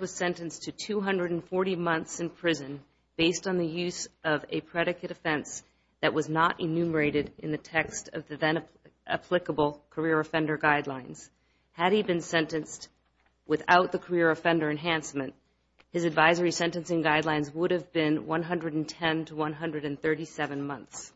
was sentenced to 240 months in prison based on the use of a predicate offense that was not enumerated in the text of the then-applicable Career Offender Guidelines. Had he been sentenced without the Career Offender Enhancement, his advisory sentencing guidelines would have been 110 to 137 months.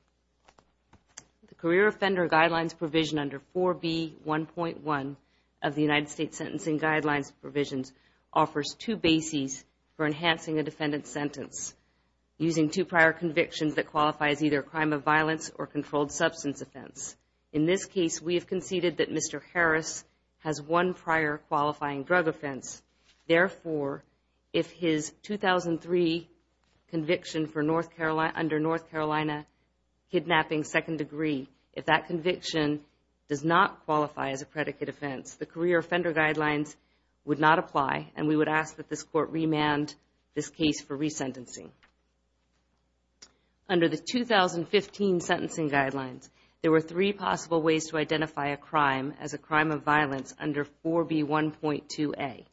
The Career Offender Guidelines provision under 4B.1.1 of the United States Sentencing Guidelines provisions offers two bases for enhancing a defendant's sentence. two prior convictions that qualify as either a crime of violence or a controlled substance offense. In this case, we have conceded that Mr. Harris has one prior qualifying drug offense. Therefore, if his 2003 conviction under North Carolina kidnapping second degree, if that conviction does not qualify as a predicate offense, the Career Offender Guidelines would not apply and we would ask that this court remand this case for resentencing. Under the 2015 Sentencing Guidelines, there were three possible ways to identify a crime as a crime of violence under 4B.1.2a,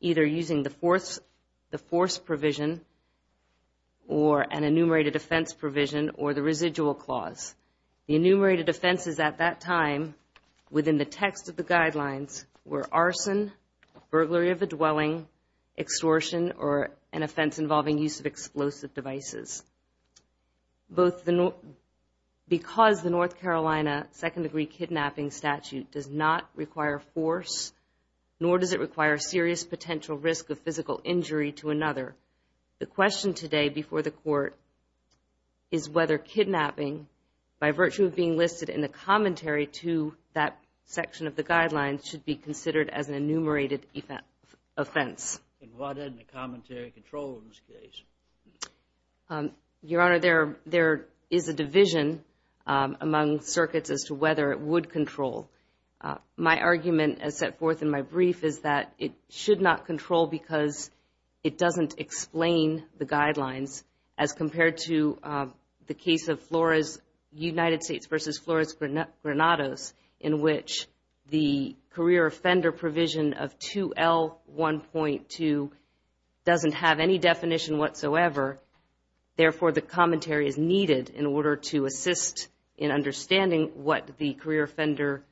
either using the force provision or an enumerated offense provision or the residual clause. The enumerated offenses at that time within the text of the guidelines were arson, burglary of a dwelling, extortion, or an offense involving use of explosive devices. Because the North Carolina second degree kidnapping statute does not require force, nor does it require serious potential risk of physical injury to another, the question today before the court is whether kidnapping by virtue of being section of the guidelines should be considered as an enumerated offense. And what is the commentary control in this case? Your Honor, there is a division among circuits as to whether it would control. My argument as set forth in my brief is that it should not control because it doesn't explain the career offender provision of 2L.1.2 doesn't have any definition whatsoever. Therefore, the commentary is needed in order to assist in understanding what the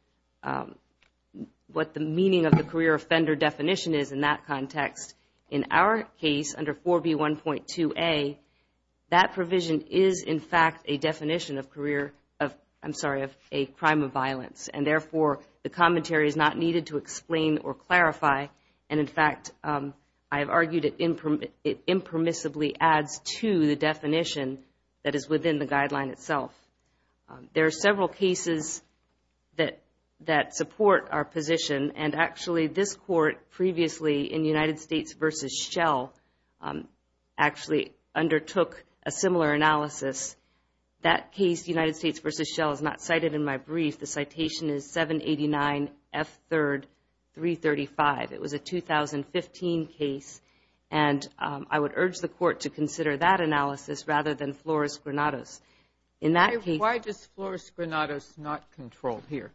meaning of the career offender definition is in that context. In our case, under 4B.1.2a, that provision is in fact a definition of a crime of violence. And therefore, the commentary is not needed to explain or clarify. And in fact, I've argued it impermissibly adds to the definition that is within the guideline itself. There are several cases that support our position and actually this court previously in United States v. Shell actually undertook a similar analysis. That case, United States v. Shell, is not cited in my brief. The citation is 789 F. 3rd. 335. It was a 2015 case. And I would urge the court to consider that analysis rather than Flores-Granados. In that case... Why does Flores-Granados not control here?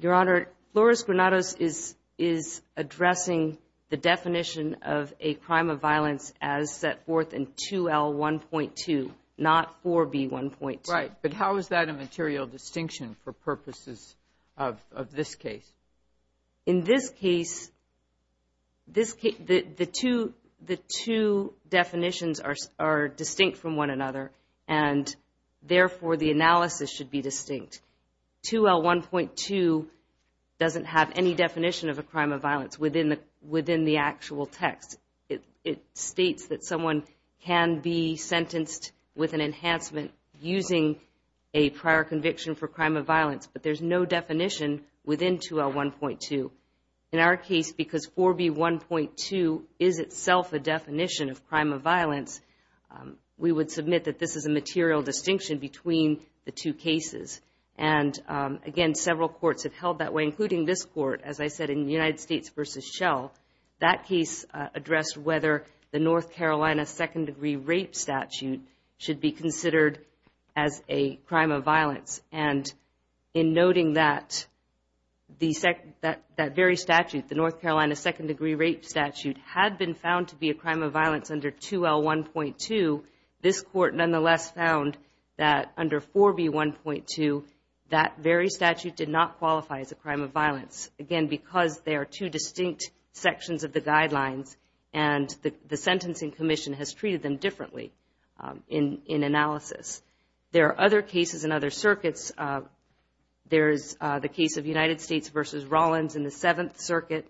Your Honor, Flores-Granados is addressing the definition of a crime of violence as set 4B.1.2, not 4B.1.2. Right. But how is that a material distinction for purposes of this case? In this case, the two definitions are distinct from one another. And therefore, the analysis should be distinct. 2L.1.2 doesn't have any definition of a crime of violence within the actual text. It states that someone can be sentenced with an enhancement using a prior conviction for crime of violence, but there's no definition within 2L.1.2. In our case, because 4B.1.2 is itself a definition of crime of violence, we would submit that this is a material distinction between the two cases. And again, several courts have held that way, including this court, as I said, in United States v. Shell. That case addressed whether the North Carolina Second Degree Rape Statute should be considered as a crime of violence. And in noting that that very statute, the North Carolina Second Degree Rape Statute, had been found to be a crime of violence under 2L.1.2, this court nonetheless found that under 4B.1.2, that very statute did not qualify as a crime of violence. Again, because they are two distinct sections of the guidelines, and the Sentencing Commission has treated them differently in analysis. There are other cases in other circuits. There's the case of United States v. Rollins in the Seventh Circuit.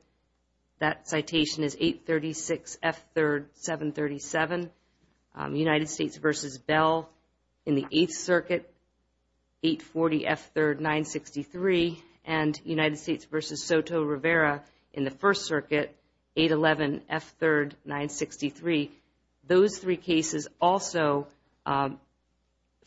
That citation is 836F.3.737. United States v. Soto Rivera in the First Circuit, 840F.3.963. And United States v. Soto Rivera in the First Circuit, 811F.3.963. Those three cases also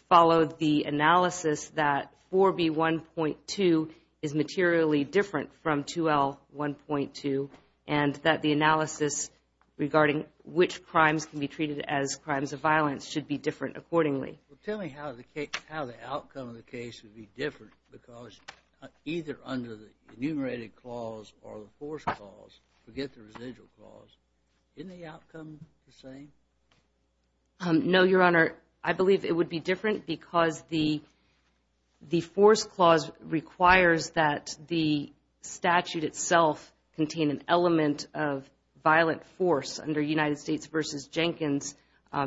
followed the analysis that 4B.1.2 is materially different from 2L.1.2, and that the analysis regarding which crimes can be case would be different because either under the enumerated clause or the force clause, forget the residual clause, isn't the outcome the same? No, Your Honor. I believe it would be different because the force clause requires that the statute itself contain an element of violent force under United States v. Jenkins.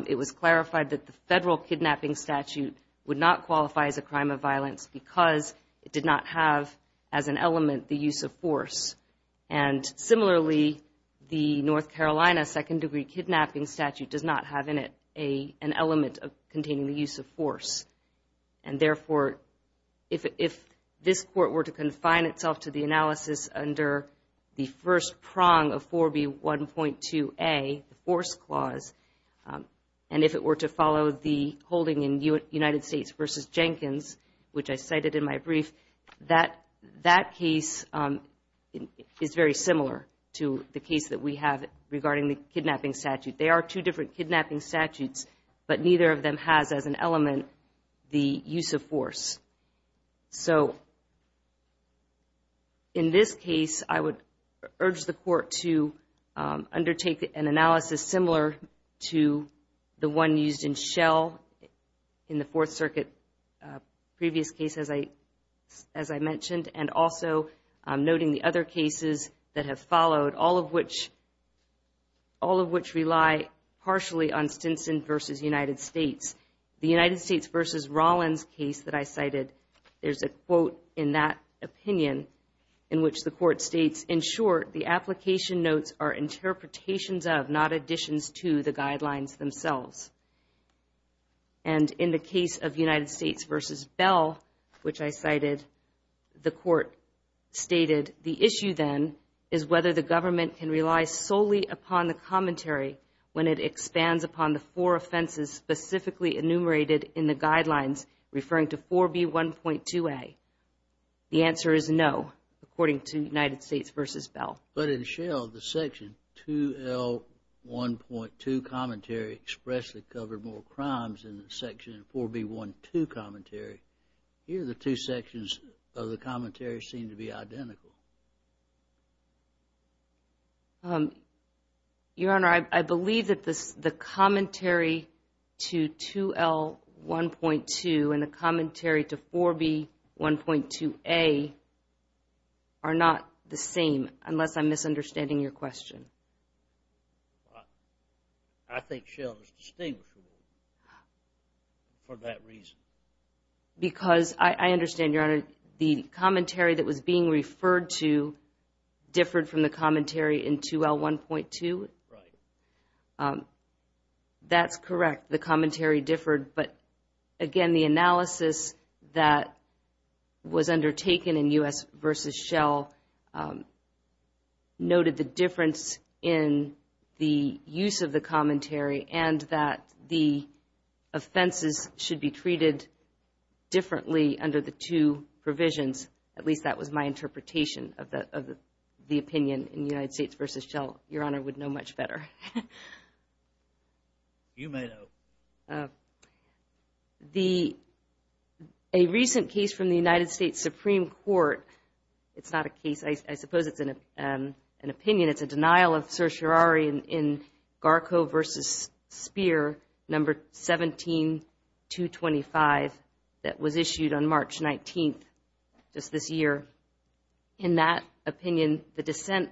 It was not qualified as a crime of violence because it did not have as an element the use of force. And similarly, the North Carolina Second Degree Kidnapping Statute does not have in it an element containing the use of force. And therefore, if this Court were to confine itself to the analysis under the first prong of 4B.1.2a, the force clause, and if it were to follow the holding in United States v. Jenkins, which I cited in my brief, that case is very similar to the case that we have regarding the kidnapping statute. They are two different kidnapping statutes, but neither of them has as an element the use of force. So in this case, I would urge the Court to undertake an analysis similar to the one used in Shell in the Fourth Circuit previous case, as I mentioned, and also noting the other cases that have followed, all of which rely partially on Stinson v. United States. The United States v. Rollins case that I cited, there's a quote in that opinion in which the Court states, in short, the application notes are interpretations of, not additions to, the guidelines themselves. And in the case of United States v. Bell, which I cited, the Court stated, the issue then is whether the government can rely solely upon the commentary when it expands upon the four offenses specifically enumerated in the guidelines referring to 4B.1.2a. The answer is no, according to United States v. Bell. But in Shell, the section 2L.1.2 commentary expressly covered more crimes than the section 4B.1.2 commentary. Here, the two sections of the commentary seem to be identical. Your Honor, I believe that the commentary to 2L.1.2 and the commentary to 4B.1.2a are not the same, unless I'm misunderstanding your question. I think Shell is distinguishable for that reason. Because I understand, Your Honor, the commentary that was being referred to differed from the commentary in 2L.1.2. That's correct, the commentary differed, but again, the analysis that was undertaken in U.S. v. Shell noted the difference in the use of the commentary and that the offenses should be treated differently under the two provisions. At least, that was my interpretation of the opinion in United States v. Shell. Your Honor would know much better. Your Honor, a recent case from the United States Supreme Court, it's not a case, I suppose it's an opinion, it's a denial of certiorari in Garko v. Speer, No. 17-225, that was issued on March 19th, just this year. In that opinion, the dissent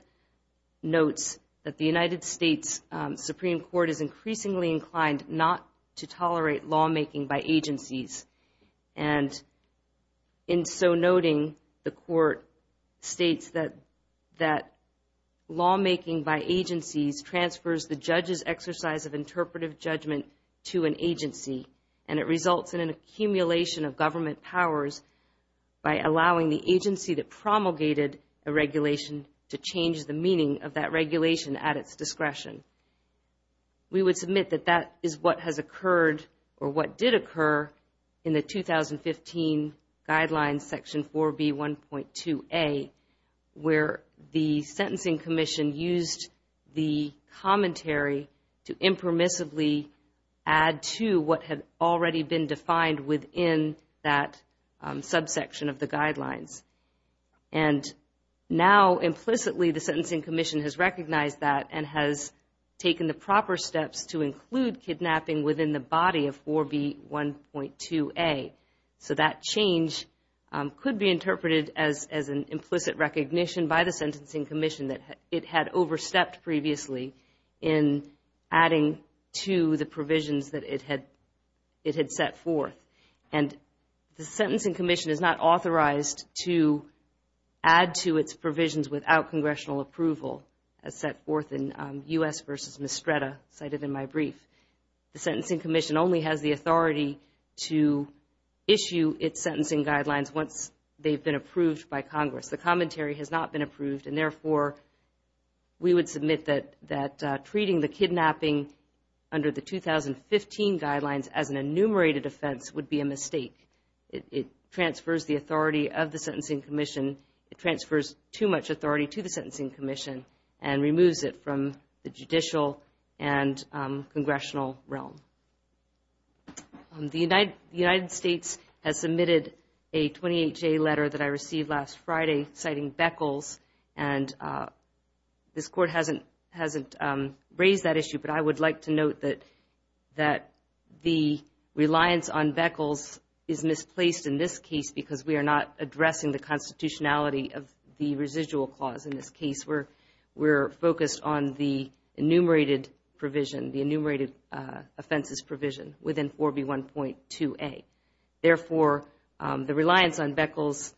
notes that the United States Supreme Court is increasingly inclined not to tolerate lawmaking by agencies. In so noting, the court states that lawmaking by agencies transfers the judge's exercise of interpretive judgment to an agency. It results in an accumulation of government powers by allowing the agency that promulgated a regulation to change the meaning of that regulation at its discretion. We would submit that that is what has occurred or what did occur in the 2015 Guidelines, Section 4B, 1.2a, where the Sentencing Commission used the commentary to impermissibly add to what had already been defined within that subsection of the Guidelines. Now, implicitly, the Sentencing Commission has recognized that and has taken the proper steps to include kidnapping within the body of 4B, 1.2a. That change could be interpreted as an implicit recognition by the Sentencing Commission that it had overstepped previously in adding to the provisions that it had set forth. The Sentencing Commission is not authorized to add to its provisions without congressional approval, as set forth in U.S. v. Mistretta, cited in my brief. The Sentencing Commission only has the authority to issue its sentencing guidelines once they've been approved by Congress. The commentary has not been approved and, therefore, we would submit that treating the kidnapping under the 2015 Guidelines as an it transfers too much authority to the Sentencing Commission and removes it from the judicial and congressional realm. The United States has submitted a 28-J letter that I received last Friday citing Beckles, and this Court hasn't raised that issue, but I would like to note that the reliance on Beckles is misplaced in this case because we are not addressing the constitutionality of the residual clause in this case. We're focused on the enumerated provision, the enumerated offenses provision within 4B, 1.2a. Therefore, the reliance on Beckles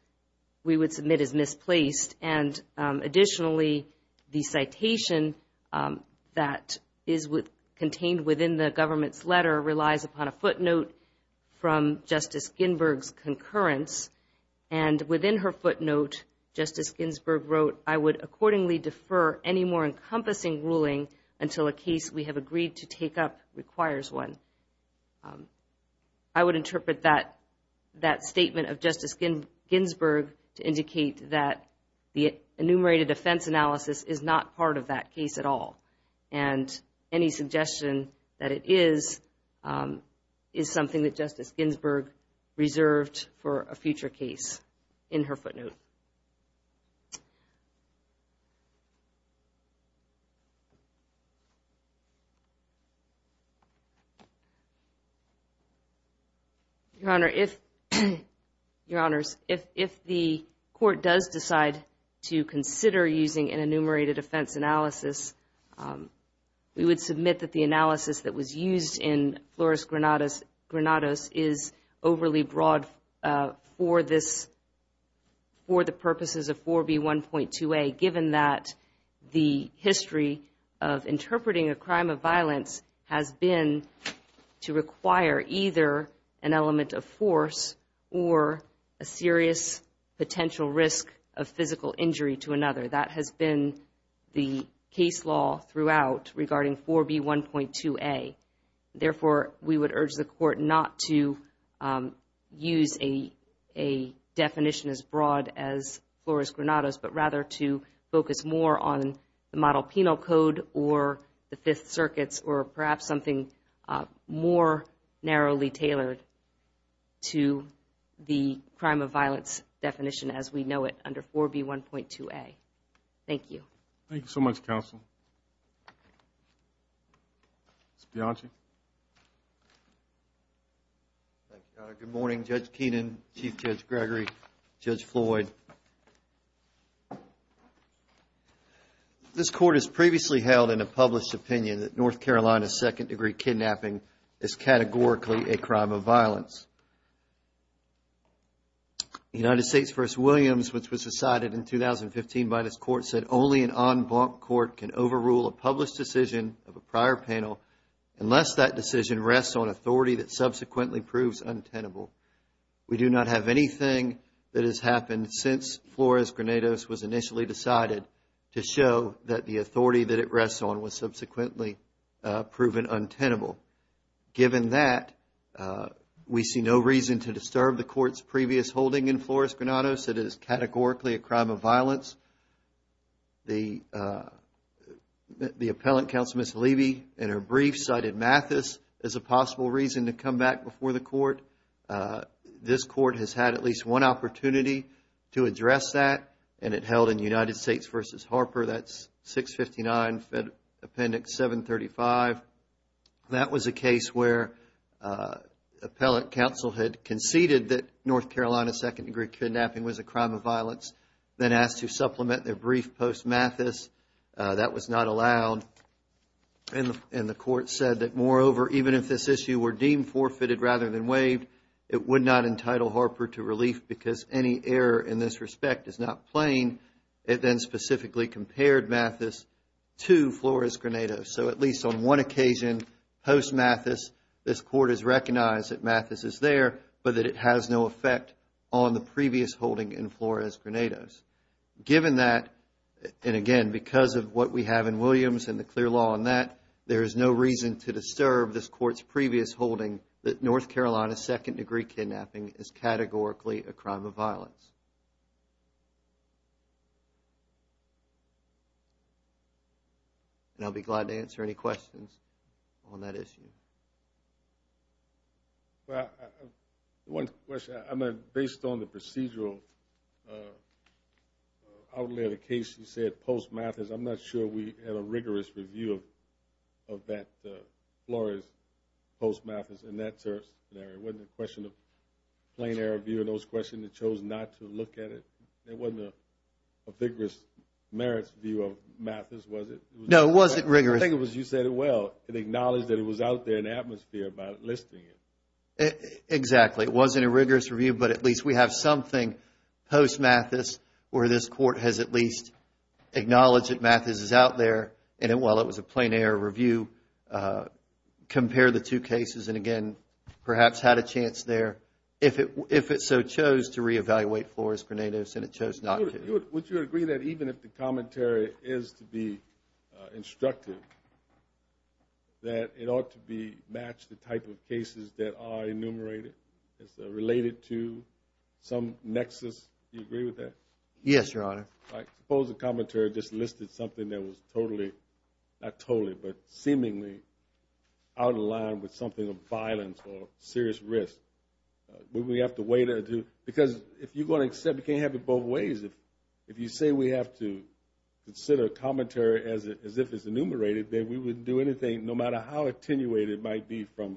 is misplaced, and additionally, the citation that is contained within the government's letter relies upon a footnote from Justice Ginsburg's concurrence, and within her footnote, Justice Ginsburg wrote, I would accordingly defer any more encompassing ruling until a case we have agreed to take up requires one. I would interpret that statement of Justice Ginsburg to indicate that the enumerated offense analysis is not part of that case at all, and any suggestion that it is is something that Justice Ginsburg reserved for a future the Court does decide to consider using an enumerated offense analysis, we would submit that the analysis that was used in Flores-Granados is overly broad for the purposes of 4B, 1.2a, given that the history of interpreting a crime of violence has been to require either an serious potential risk of physical injury to another. That has been the case law throughout regarding 4B, 1.2a. Therefore, we would urge the Court not to use a definition as broad as Flores-Granados, but rather to focus more on the Model Penal Code or the Fifth Circuits or perhaps something more narrowly tailored to the crime of violence definition as we know it under 4B, 1.2a. Thank you. Thank you so much, counsel. Mr. Bianchi. Thank you, Your Honor. Good morning, Judge Keenan, Chief Judge Gregory, Judge Floyd. This Court has previously held in a published opinion that North Carolina second-degree kidnapping is categorically a crime of violence. United States v. Williams, which was decided in 2015 by this Court, said only an en blanc court can overrule a published decision of a prior penal unless that decision rests on authority that subsequently proves untenable. We do not have anything that has happened since Flores-Granados was initially decided to show that the authority that it rests on was subsequently proven untenable. Given that, we see no reason to disturb the Court's previous holding in Flores-Granados. It is categorically a crime of violence. The appellant, Counsel Miss Levy, in her brief cited Mathis as a suspect. This Court has had at least one opportunity to address that, and it held in United States v. Harper. That's 659 Appendix 735. That was a case where appellant counsel had conceded that North Carolina second-degree kidnapping was a crime of violence, then asked to supplement their brief post Mathis. That was not allowed, and the Court said that moreover, even if this issue were deemed forfeited rather than waived, it would not entitle Harper to relief because any error in this respect is not plain. It then specifically compared Mathis to Flores-Granados. So at least on one occasion, post Mathis, this Court has recognized that Mathis is there, but that it has no effect on the previous holding in Flores-Granados. Given that, and again, because of what we have in Williams and the clear law on that, there is no reason to disturb this Court's previous holding that North Carolina second-degree kidnapping is categorically a crime of violence. And I'll be glad to answer any questions on that issue. Well, one question, based on the procedural outlet of the case, you said post Mathis. I'm not sure we had a rigorous review of that Flores post Mathis in that scenario. It wasn't a question of plain error of view in those questions that chose not to look at it. It wasn't a vigorous merits view of Mathis, was it? No, it wasn't rigorous. I think it was you said it well and acknowledged that it was out there in the atmosphere about listing it. Exactly. It wasn't a rigorous review, but at least we have something post Mathis where this Court has at least acknowledged that Mathis is out there, and while it was a plain error review, compared the two cases, and again, perhaps had a chance there if it so chose to reevaluate Flores-Granados and it chose not to. Would you agree that even if the commentary is to be instructive, that it ought to be matched the type of cases that are enumerated as related to some nexus? Do you agree with that? Yes, the commentary just listed something that was totally, not totally, but seemingly out of line with something of violence or serious risk. We have to wait until, because if you're going to accept, you can't have it both ways. If you say we have to consider commentary as if it's enumerated, then we wouldn't do anything no matter how attenuated it might be from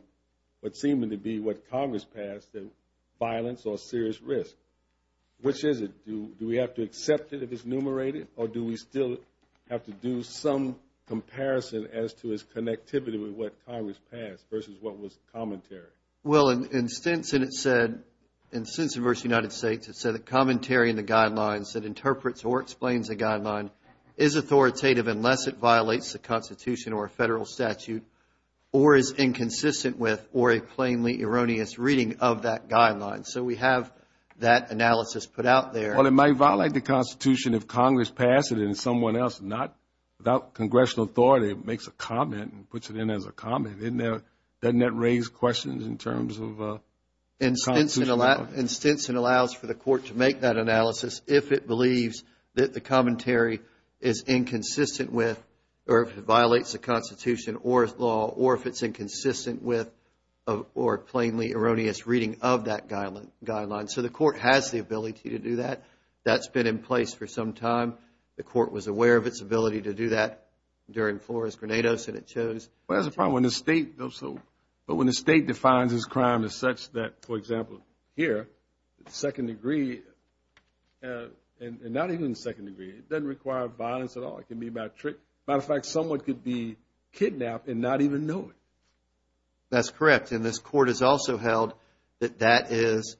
what's seeming to be what Congress passed, that violence or serious risk. Which is it? Do we have to accept it if it's or do we still have to do some comparison as to its connectivity with what Congress passed versus what was commentary? Well, in Stinson, it said, in Stinson v. United States, it said the commentary in the guidelines that interprets or explains the guideline is authoritative unless it violates the Constitution or a federal statute or is inconsistent with or a plainly erroneous reading of that guideline. So, we have that analysis put out there. Well, it might violate the Constitution if Congress passed it and someone else, not without Congressional authority, makes a comment and puts it in as a comment. Doesn't that raise questions in terms of And Stinson allows for the court to make that analysis if it believes that the commentary is inconsistent with or if it violates the Constitution or law or if it's inconsistent with or plainly erroneous reading of that guideline. So, the court has the ability to do that. That's been in place for some time. The court was aware of its ability to do that during Flores Grenados and it chose. Well, that's a problem when the state does so. But when the state defines this crime as such that, for example, here, second degree and not even second degree, it doesn't require violence at all. It can be about trick. Matter of fact, someone could be kidnapped and not even know it. That's correct. And this court has also held that that is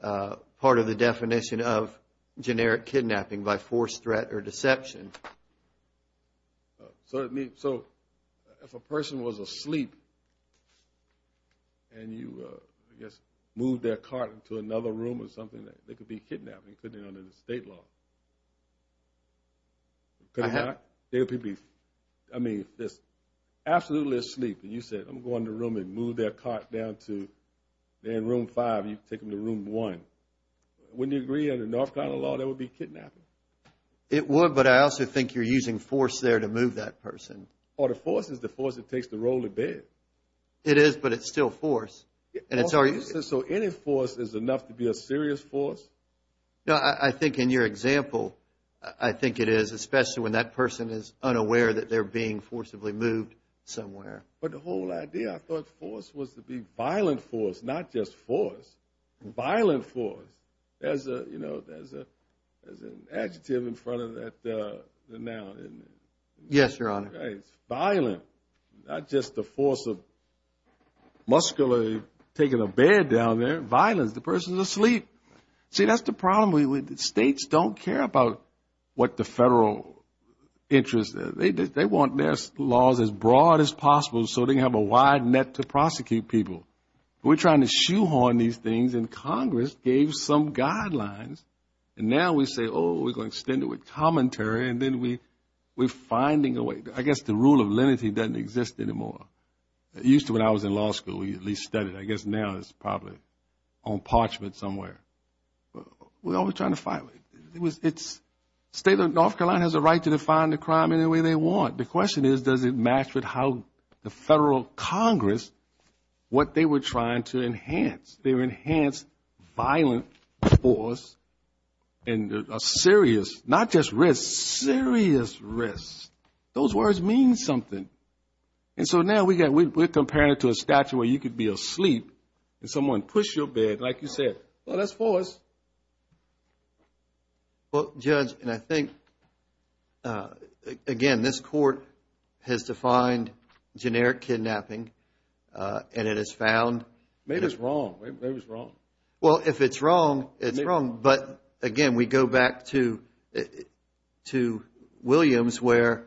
part of the definition of generic kidnapping by forced threat or deception. So, if a person was asleep and you, I guess, moved their cart into another room or something, they could be kidnapped. They couldn't be under the state law. I mean, if they're absolutely asleep and you said, I'm going to the room and move their cart down to room five, you take them to room one. Wouldn't you agree under North Carolina law, they would be kidnapped? It would, but I also think you're using force there to move that person. Or the force is the force that takes the role of bed. It is, but it's still force. So, any force is enough to be a serious force? No, I think in your example, I think it is, especially when that person is unaware that they're being forcibly moved somewhere. But the whole idea, I thought, force was to be violent force, not just force. Violent force. There's an adjective in front of that noun. Yes, Your Honor. Violent, not just the force of muscularly taking a bed down there. Violence, the person's asleep. See, that's the problem. States don't care about what the federal interest is. They want their broad as possible so they can have a wide net to prosecute people. We're trying to shoehorn these things, and Congress gave some guidelines, and now we say, oh, we're going to extend it with commentary, and then we're finding a way. I guess the rule of lenity doesn't exist anymore. Used to, when I was in law school, we at least studied it. I guess now it's probably on parchment somewhere. We're always trying to find it. It was, it's, state of North Carolina has a right to define the crime any way they want. The question is, does it match with how the federal Congress, what they were trying to enhance? They were enhanced violent force and a serious, not just risk, serious risk. Those words mean something. And so now we're comparing it to a statue where you could be asleep and someone push your bed, like you said. Well, that's false. Well, Judge, and I think, again, this court has defined generic kidnapping, and it has found- Maybe it's wrong. Maybe it's wrong. Well, if it's wrong, it's wrong. But, again, we go back to Williams, where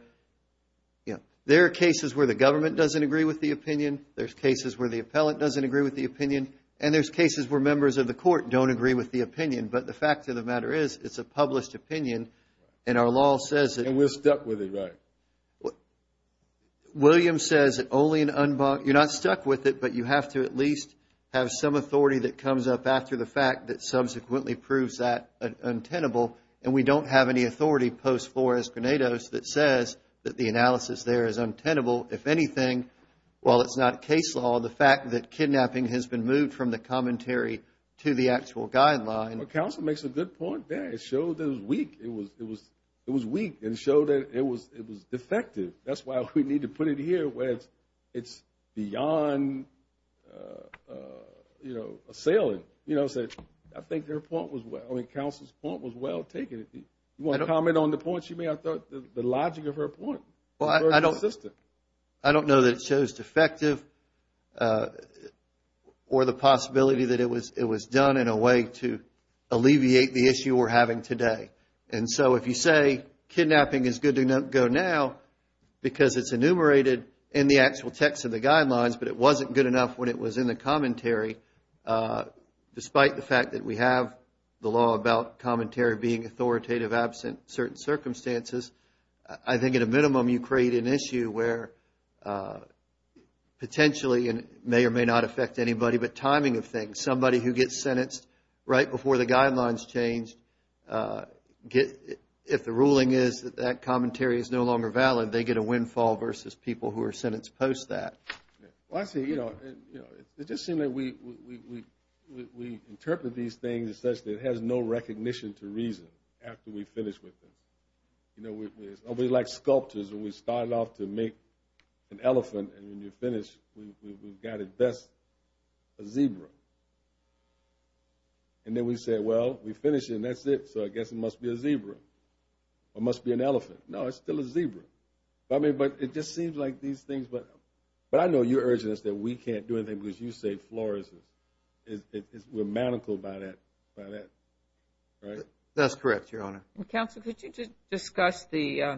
there are cases where the government doesn't agree with the opinion, there's cases where the appellant doesn't agree with the opinion, and there's cases where members of the court don't agree with the opinion. But the fact of the matter is, it's a published opinion, and our law says that- And we're stuck with it, right? Williams says that only an unbond- You're not stuck with it, but you have to at least have some authority that comes up after the fact that subsequently proves that untenable, and we don't have any authority post Flores-Granados that says that the analysis there is untenable. If anything, while it's not case law, the fact that kidnapping has been moved from the commentary to the actual guideline- Well, counsel makes a good point there. It showed that it was weak. It was weak and showed that it was defective. That's why we need to put it here where it's beyond assailing. You know what I'm saying? I think her point was well- I mean, counsel's point was well taken. You want to comment on the point she made? I thought the logic of her point was very consistent. Well, I don't know that it shows defective or the possibility that it was done in a way to alleviate the issue we're having today. And so if you say kidnapping is good to go now because it's enumerated in the actual text of the guidelines, but it wasn't good enough when it was in the commentary, despite the fact that we have the law about commentary being authoritative absent certain circumstances, I think at a minimum you create an issue where potentially, and it may or may not affect anybody, but timing of things. Somebody who gets sentenced right before the guidelines change, if the ruling is that that commentary is no longer valid, they get a windfall versus people who are sentenced post that. Well, I see. It just seemed like we interpreted these things such that it has no recognition to to make an elephant and when you finish, we've got at best a zebra. And then we say, well, we finish and that's it. So I guess it must be a zebra or must be an elephant. No, it's still a zebra. I mean, but it just seems like these things, but I know you're urging us that we can't do anything because you say florescence. We're manacled by that, right? That's correct, Your Honor. Counsel, could you just discuss the,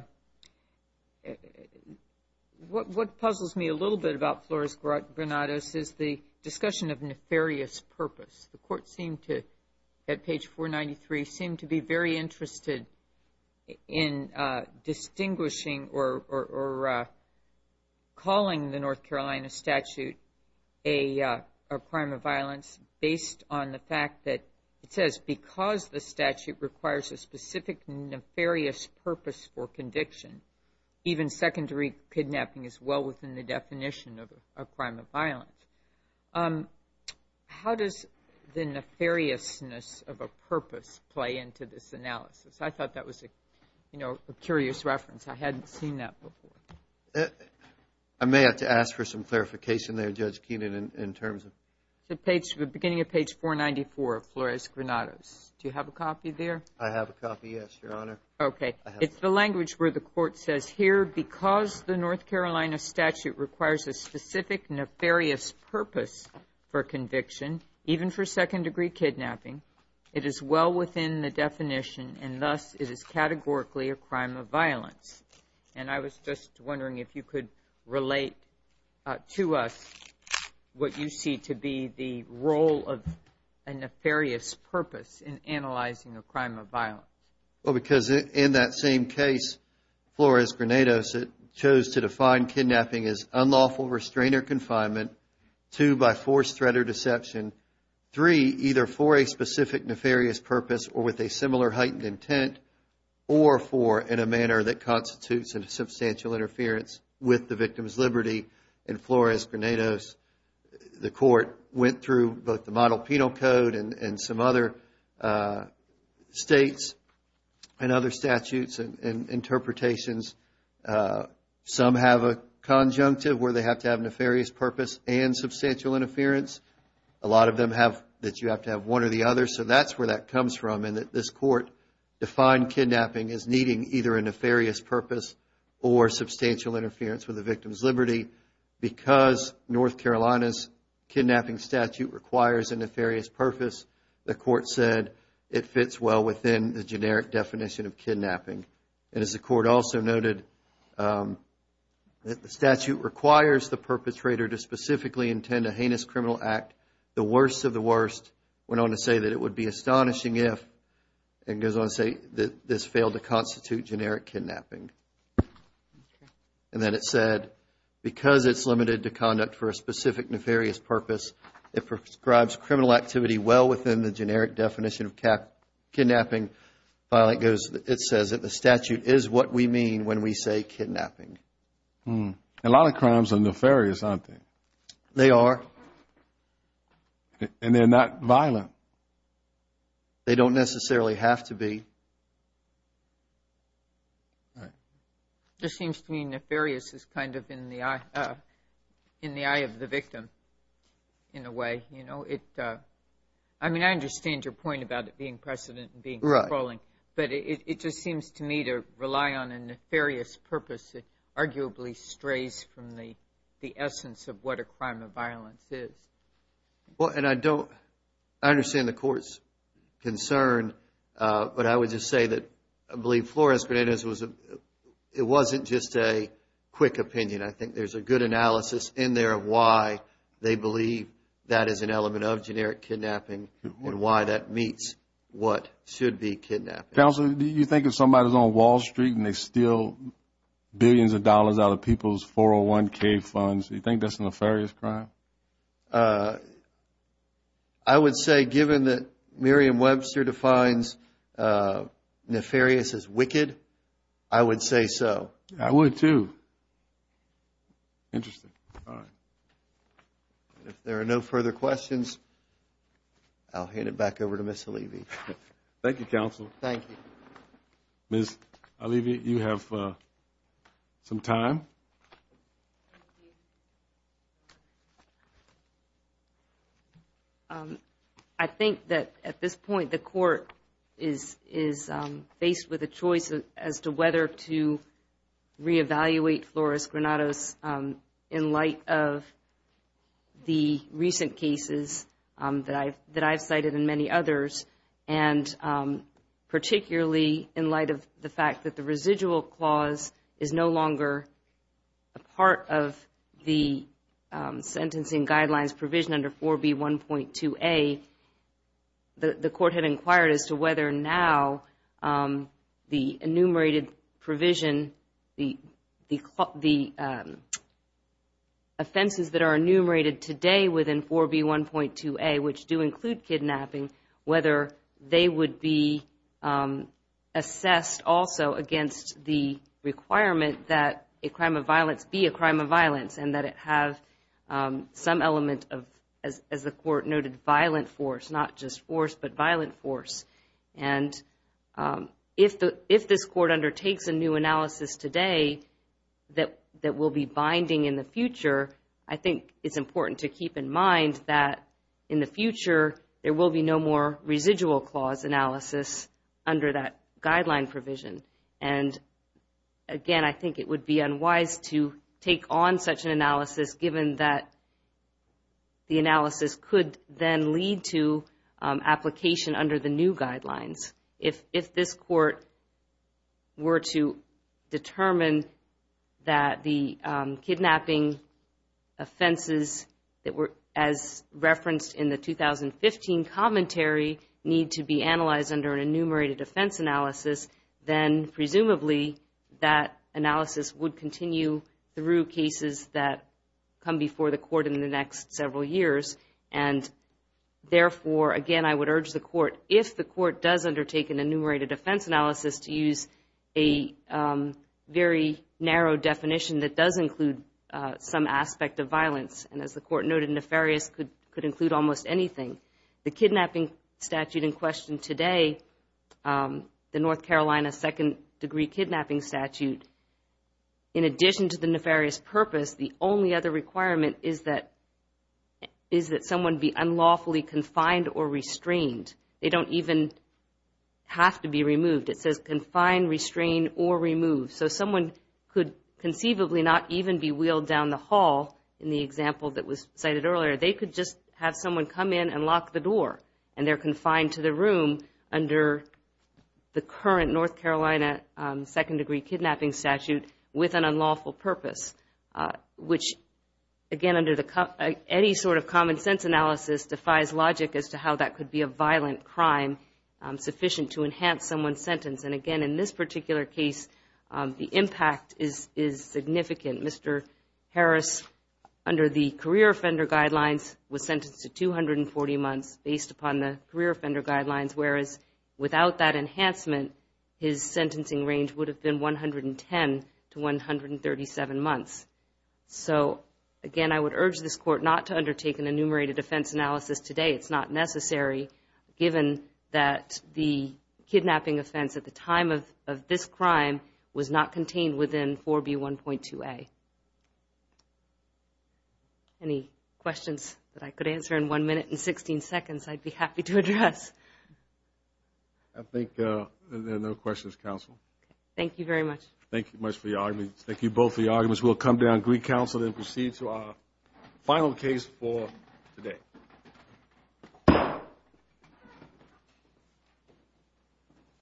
what puzzles me a little bit about Flores-Granados is the discussion of nefarious purpose. The court seemed to, at page 493, seemed to be very interested in distinguishing or calling the North Carolina statute a crime of violence based on the fact that it says because the statute requires a specific nefarious purpose for conviction, even secondary kidnapping is well within the definition of a crime of violence. How does the nefariousness of a purpose play into this analysis? I thought that was a curious reference. I hadn't seen that before. I may have to ask for some clarification there, Judge Keenan, in terms of beginning of page 494 of Flores-Granados. Do you have a copy there? I have a copy, yes, Your Honor. Okay. It's the language where the court says here because the North Carolina statute requires a specific nefarious purpose for conviction, even for second degree kidnapping, it is well within the definition and thus it is categorically a crime of violence. And I was just wondering if you could relate to us what you see to be the role of a nefarious purpose in analyzing a crime of violence. Well, because in that same case, Flores-Granados, it chose to define kidnapping as unlawful restraint or confinement, two, by forced threat or deception, three, either for a specific nefarious purpose or with a similar heightened intent, or four, in a manner that with the victim's liberty in Flores-Granados, the court went through both the model penal code and some other states and other statutes and interpretations. Some have a conjunctive where they have to have nefarious purpose and substantial interference. A lot of them have that you have to have one or the other, so that's where that comes from and that this court defined kidnapping as needing either a nefarious purpose or substantial interference with the victim's liberty. Because North Carolina's kidnapping statute requires a nefarious purpose, the court said it fits well within the generic definition of kidnapping. And as the court also noted, the statute requires the perpetrator to specifically intend a heinous criminal act, the worst of the worst, went on to say that it would be astonishing if, and goes on to say, that this failed to constitute generic kidnapping. And then it said, because it's limited to conduct for a specific nefarious purpose, it prescribes criminal activity well within the generic definition of kidnapping. It says that the statute is what we mean when we say kidnapping. A lot of crimes are nefarious, aren't they? They are. And they're not violent. They don't necessarily have to be. It just seems to me nefarious is kind of in the eye of the victim, in a way. I mean, I understand your point about it being precedent and being controlling, but it just seems to me to be the essence of what a crime of violence is. Well, and I don't, I understand the court's concern, but I would just say that I believe Flores-Bonet is, it wasn't just a quick opinion. I think there's a good analysis in there of why they believe that is an element of generic kidnapping and why that meets what should be kidnapping. Counselor, do you think if somebody's on Wall Street and they steal billions of dollars out of people's 401k funds, do you think that's a nefarious crime? I would say given that Merriam-Webster defines nefarious as wicked, I would say so. I would, too. Interesting. All right. If there are no further questions, I'll hand it back over to Ms. Alivi. Thank you, Counsel. Thank you. Ms. Alivi, you have some time. I think that at this point, the court is faced with a choice as to whether to reevaluate Flores-Granados in light of the recent cases that I've cited and many others, and particularly in light of the fact that the residual clause is no longer a part of the sentencing guidelines provision under 4B1.2a. The court had inquired as to whether now the enumerated provision, the offenses that are enumerated today within 4B1.2a, which do include kidnapping, whether they would be assessed also against the requirement that a crime of violence be a crime of violence and that it have some element of, as the court noted, violent force, not just force, but violent force. And if this court undertakes a new analysis today that will be binding in the future, I think it's important to keep in mind that in the future, there will be no more residual clause analysis under that guideline provision. And again, I think it would be unwise to take on such an analysis given that the analysis could then lead to application under the new guidelines. If this court were to determine that the kidnapping offenses that were as referenced in the 2015 commentary need to be analyzed under an enumerated offense analysis, then presumably that analysis would continue through cases that come before the court in the next several years. And therefore, again, I would urge the court, if the court does undertake an enumerated offense analysis, to use a very narrow definition that does include some aspect of violence. And as the court noted, nefarious could include almost anything. The kidnapping statute in question today, the North Carolina Second Degree Kidnapping Statute, in addition to the nefarious purpose, the only other requirement is that someone be unlawfully confined or restrained. They don't even have to be removed. It says confined, restrained, or removed. So someone could conceivably not even be wheeled down the hall in the example that was cited earlier. They could just have someone come in and lock the door, and they're confined to the under the current North Carolina Second Degree Kidnapping Statute with an unlawful purpose, which, again, under any sort of common sense analysis defies logic as to how that could be a violent crime sufficient to enhance someone's sentence. And again, in this particular case, the impact is significant. Mr. Harris, under the career offender guidelines, was sentenced to 240 months based upon the career offender guidelines, whereas without that enhancement, his sentencing range would have been 110 to 137 months. So again, I would urge this court not to undertake an enumerated offense analysis today. It's not necessary, given that the kidnapping offense at the time of this crime was not contained within 4B1.2a. Any questions that I could answer in one minute and 16 seconds, I'd be happy to address. I think there are no questions, counsel. Thank you very much. Thank you much for the argument. Thank you both for your arguments. We'll come down and greet counsel and proceed to our final case for today.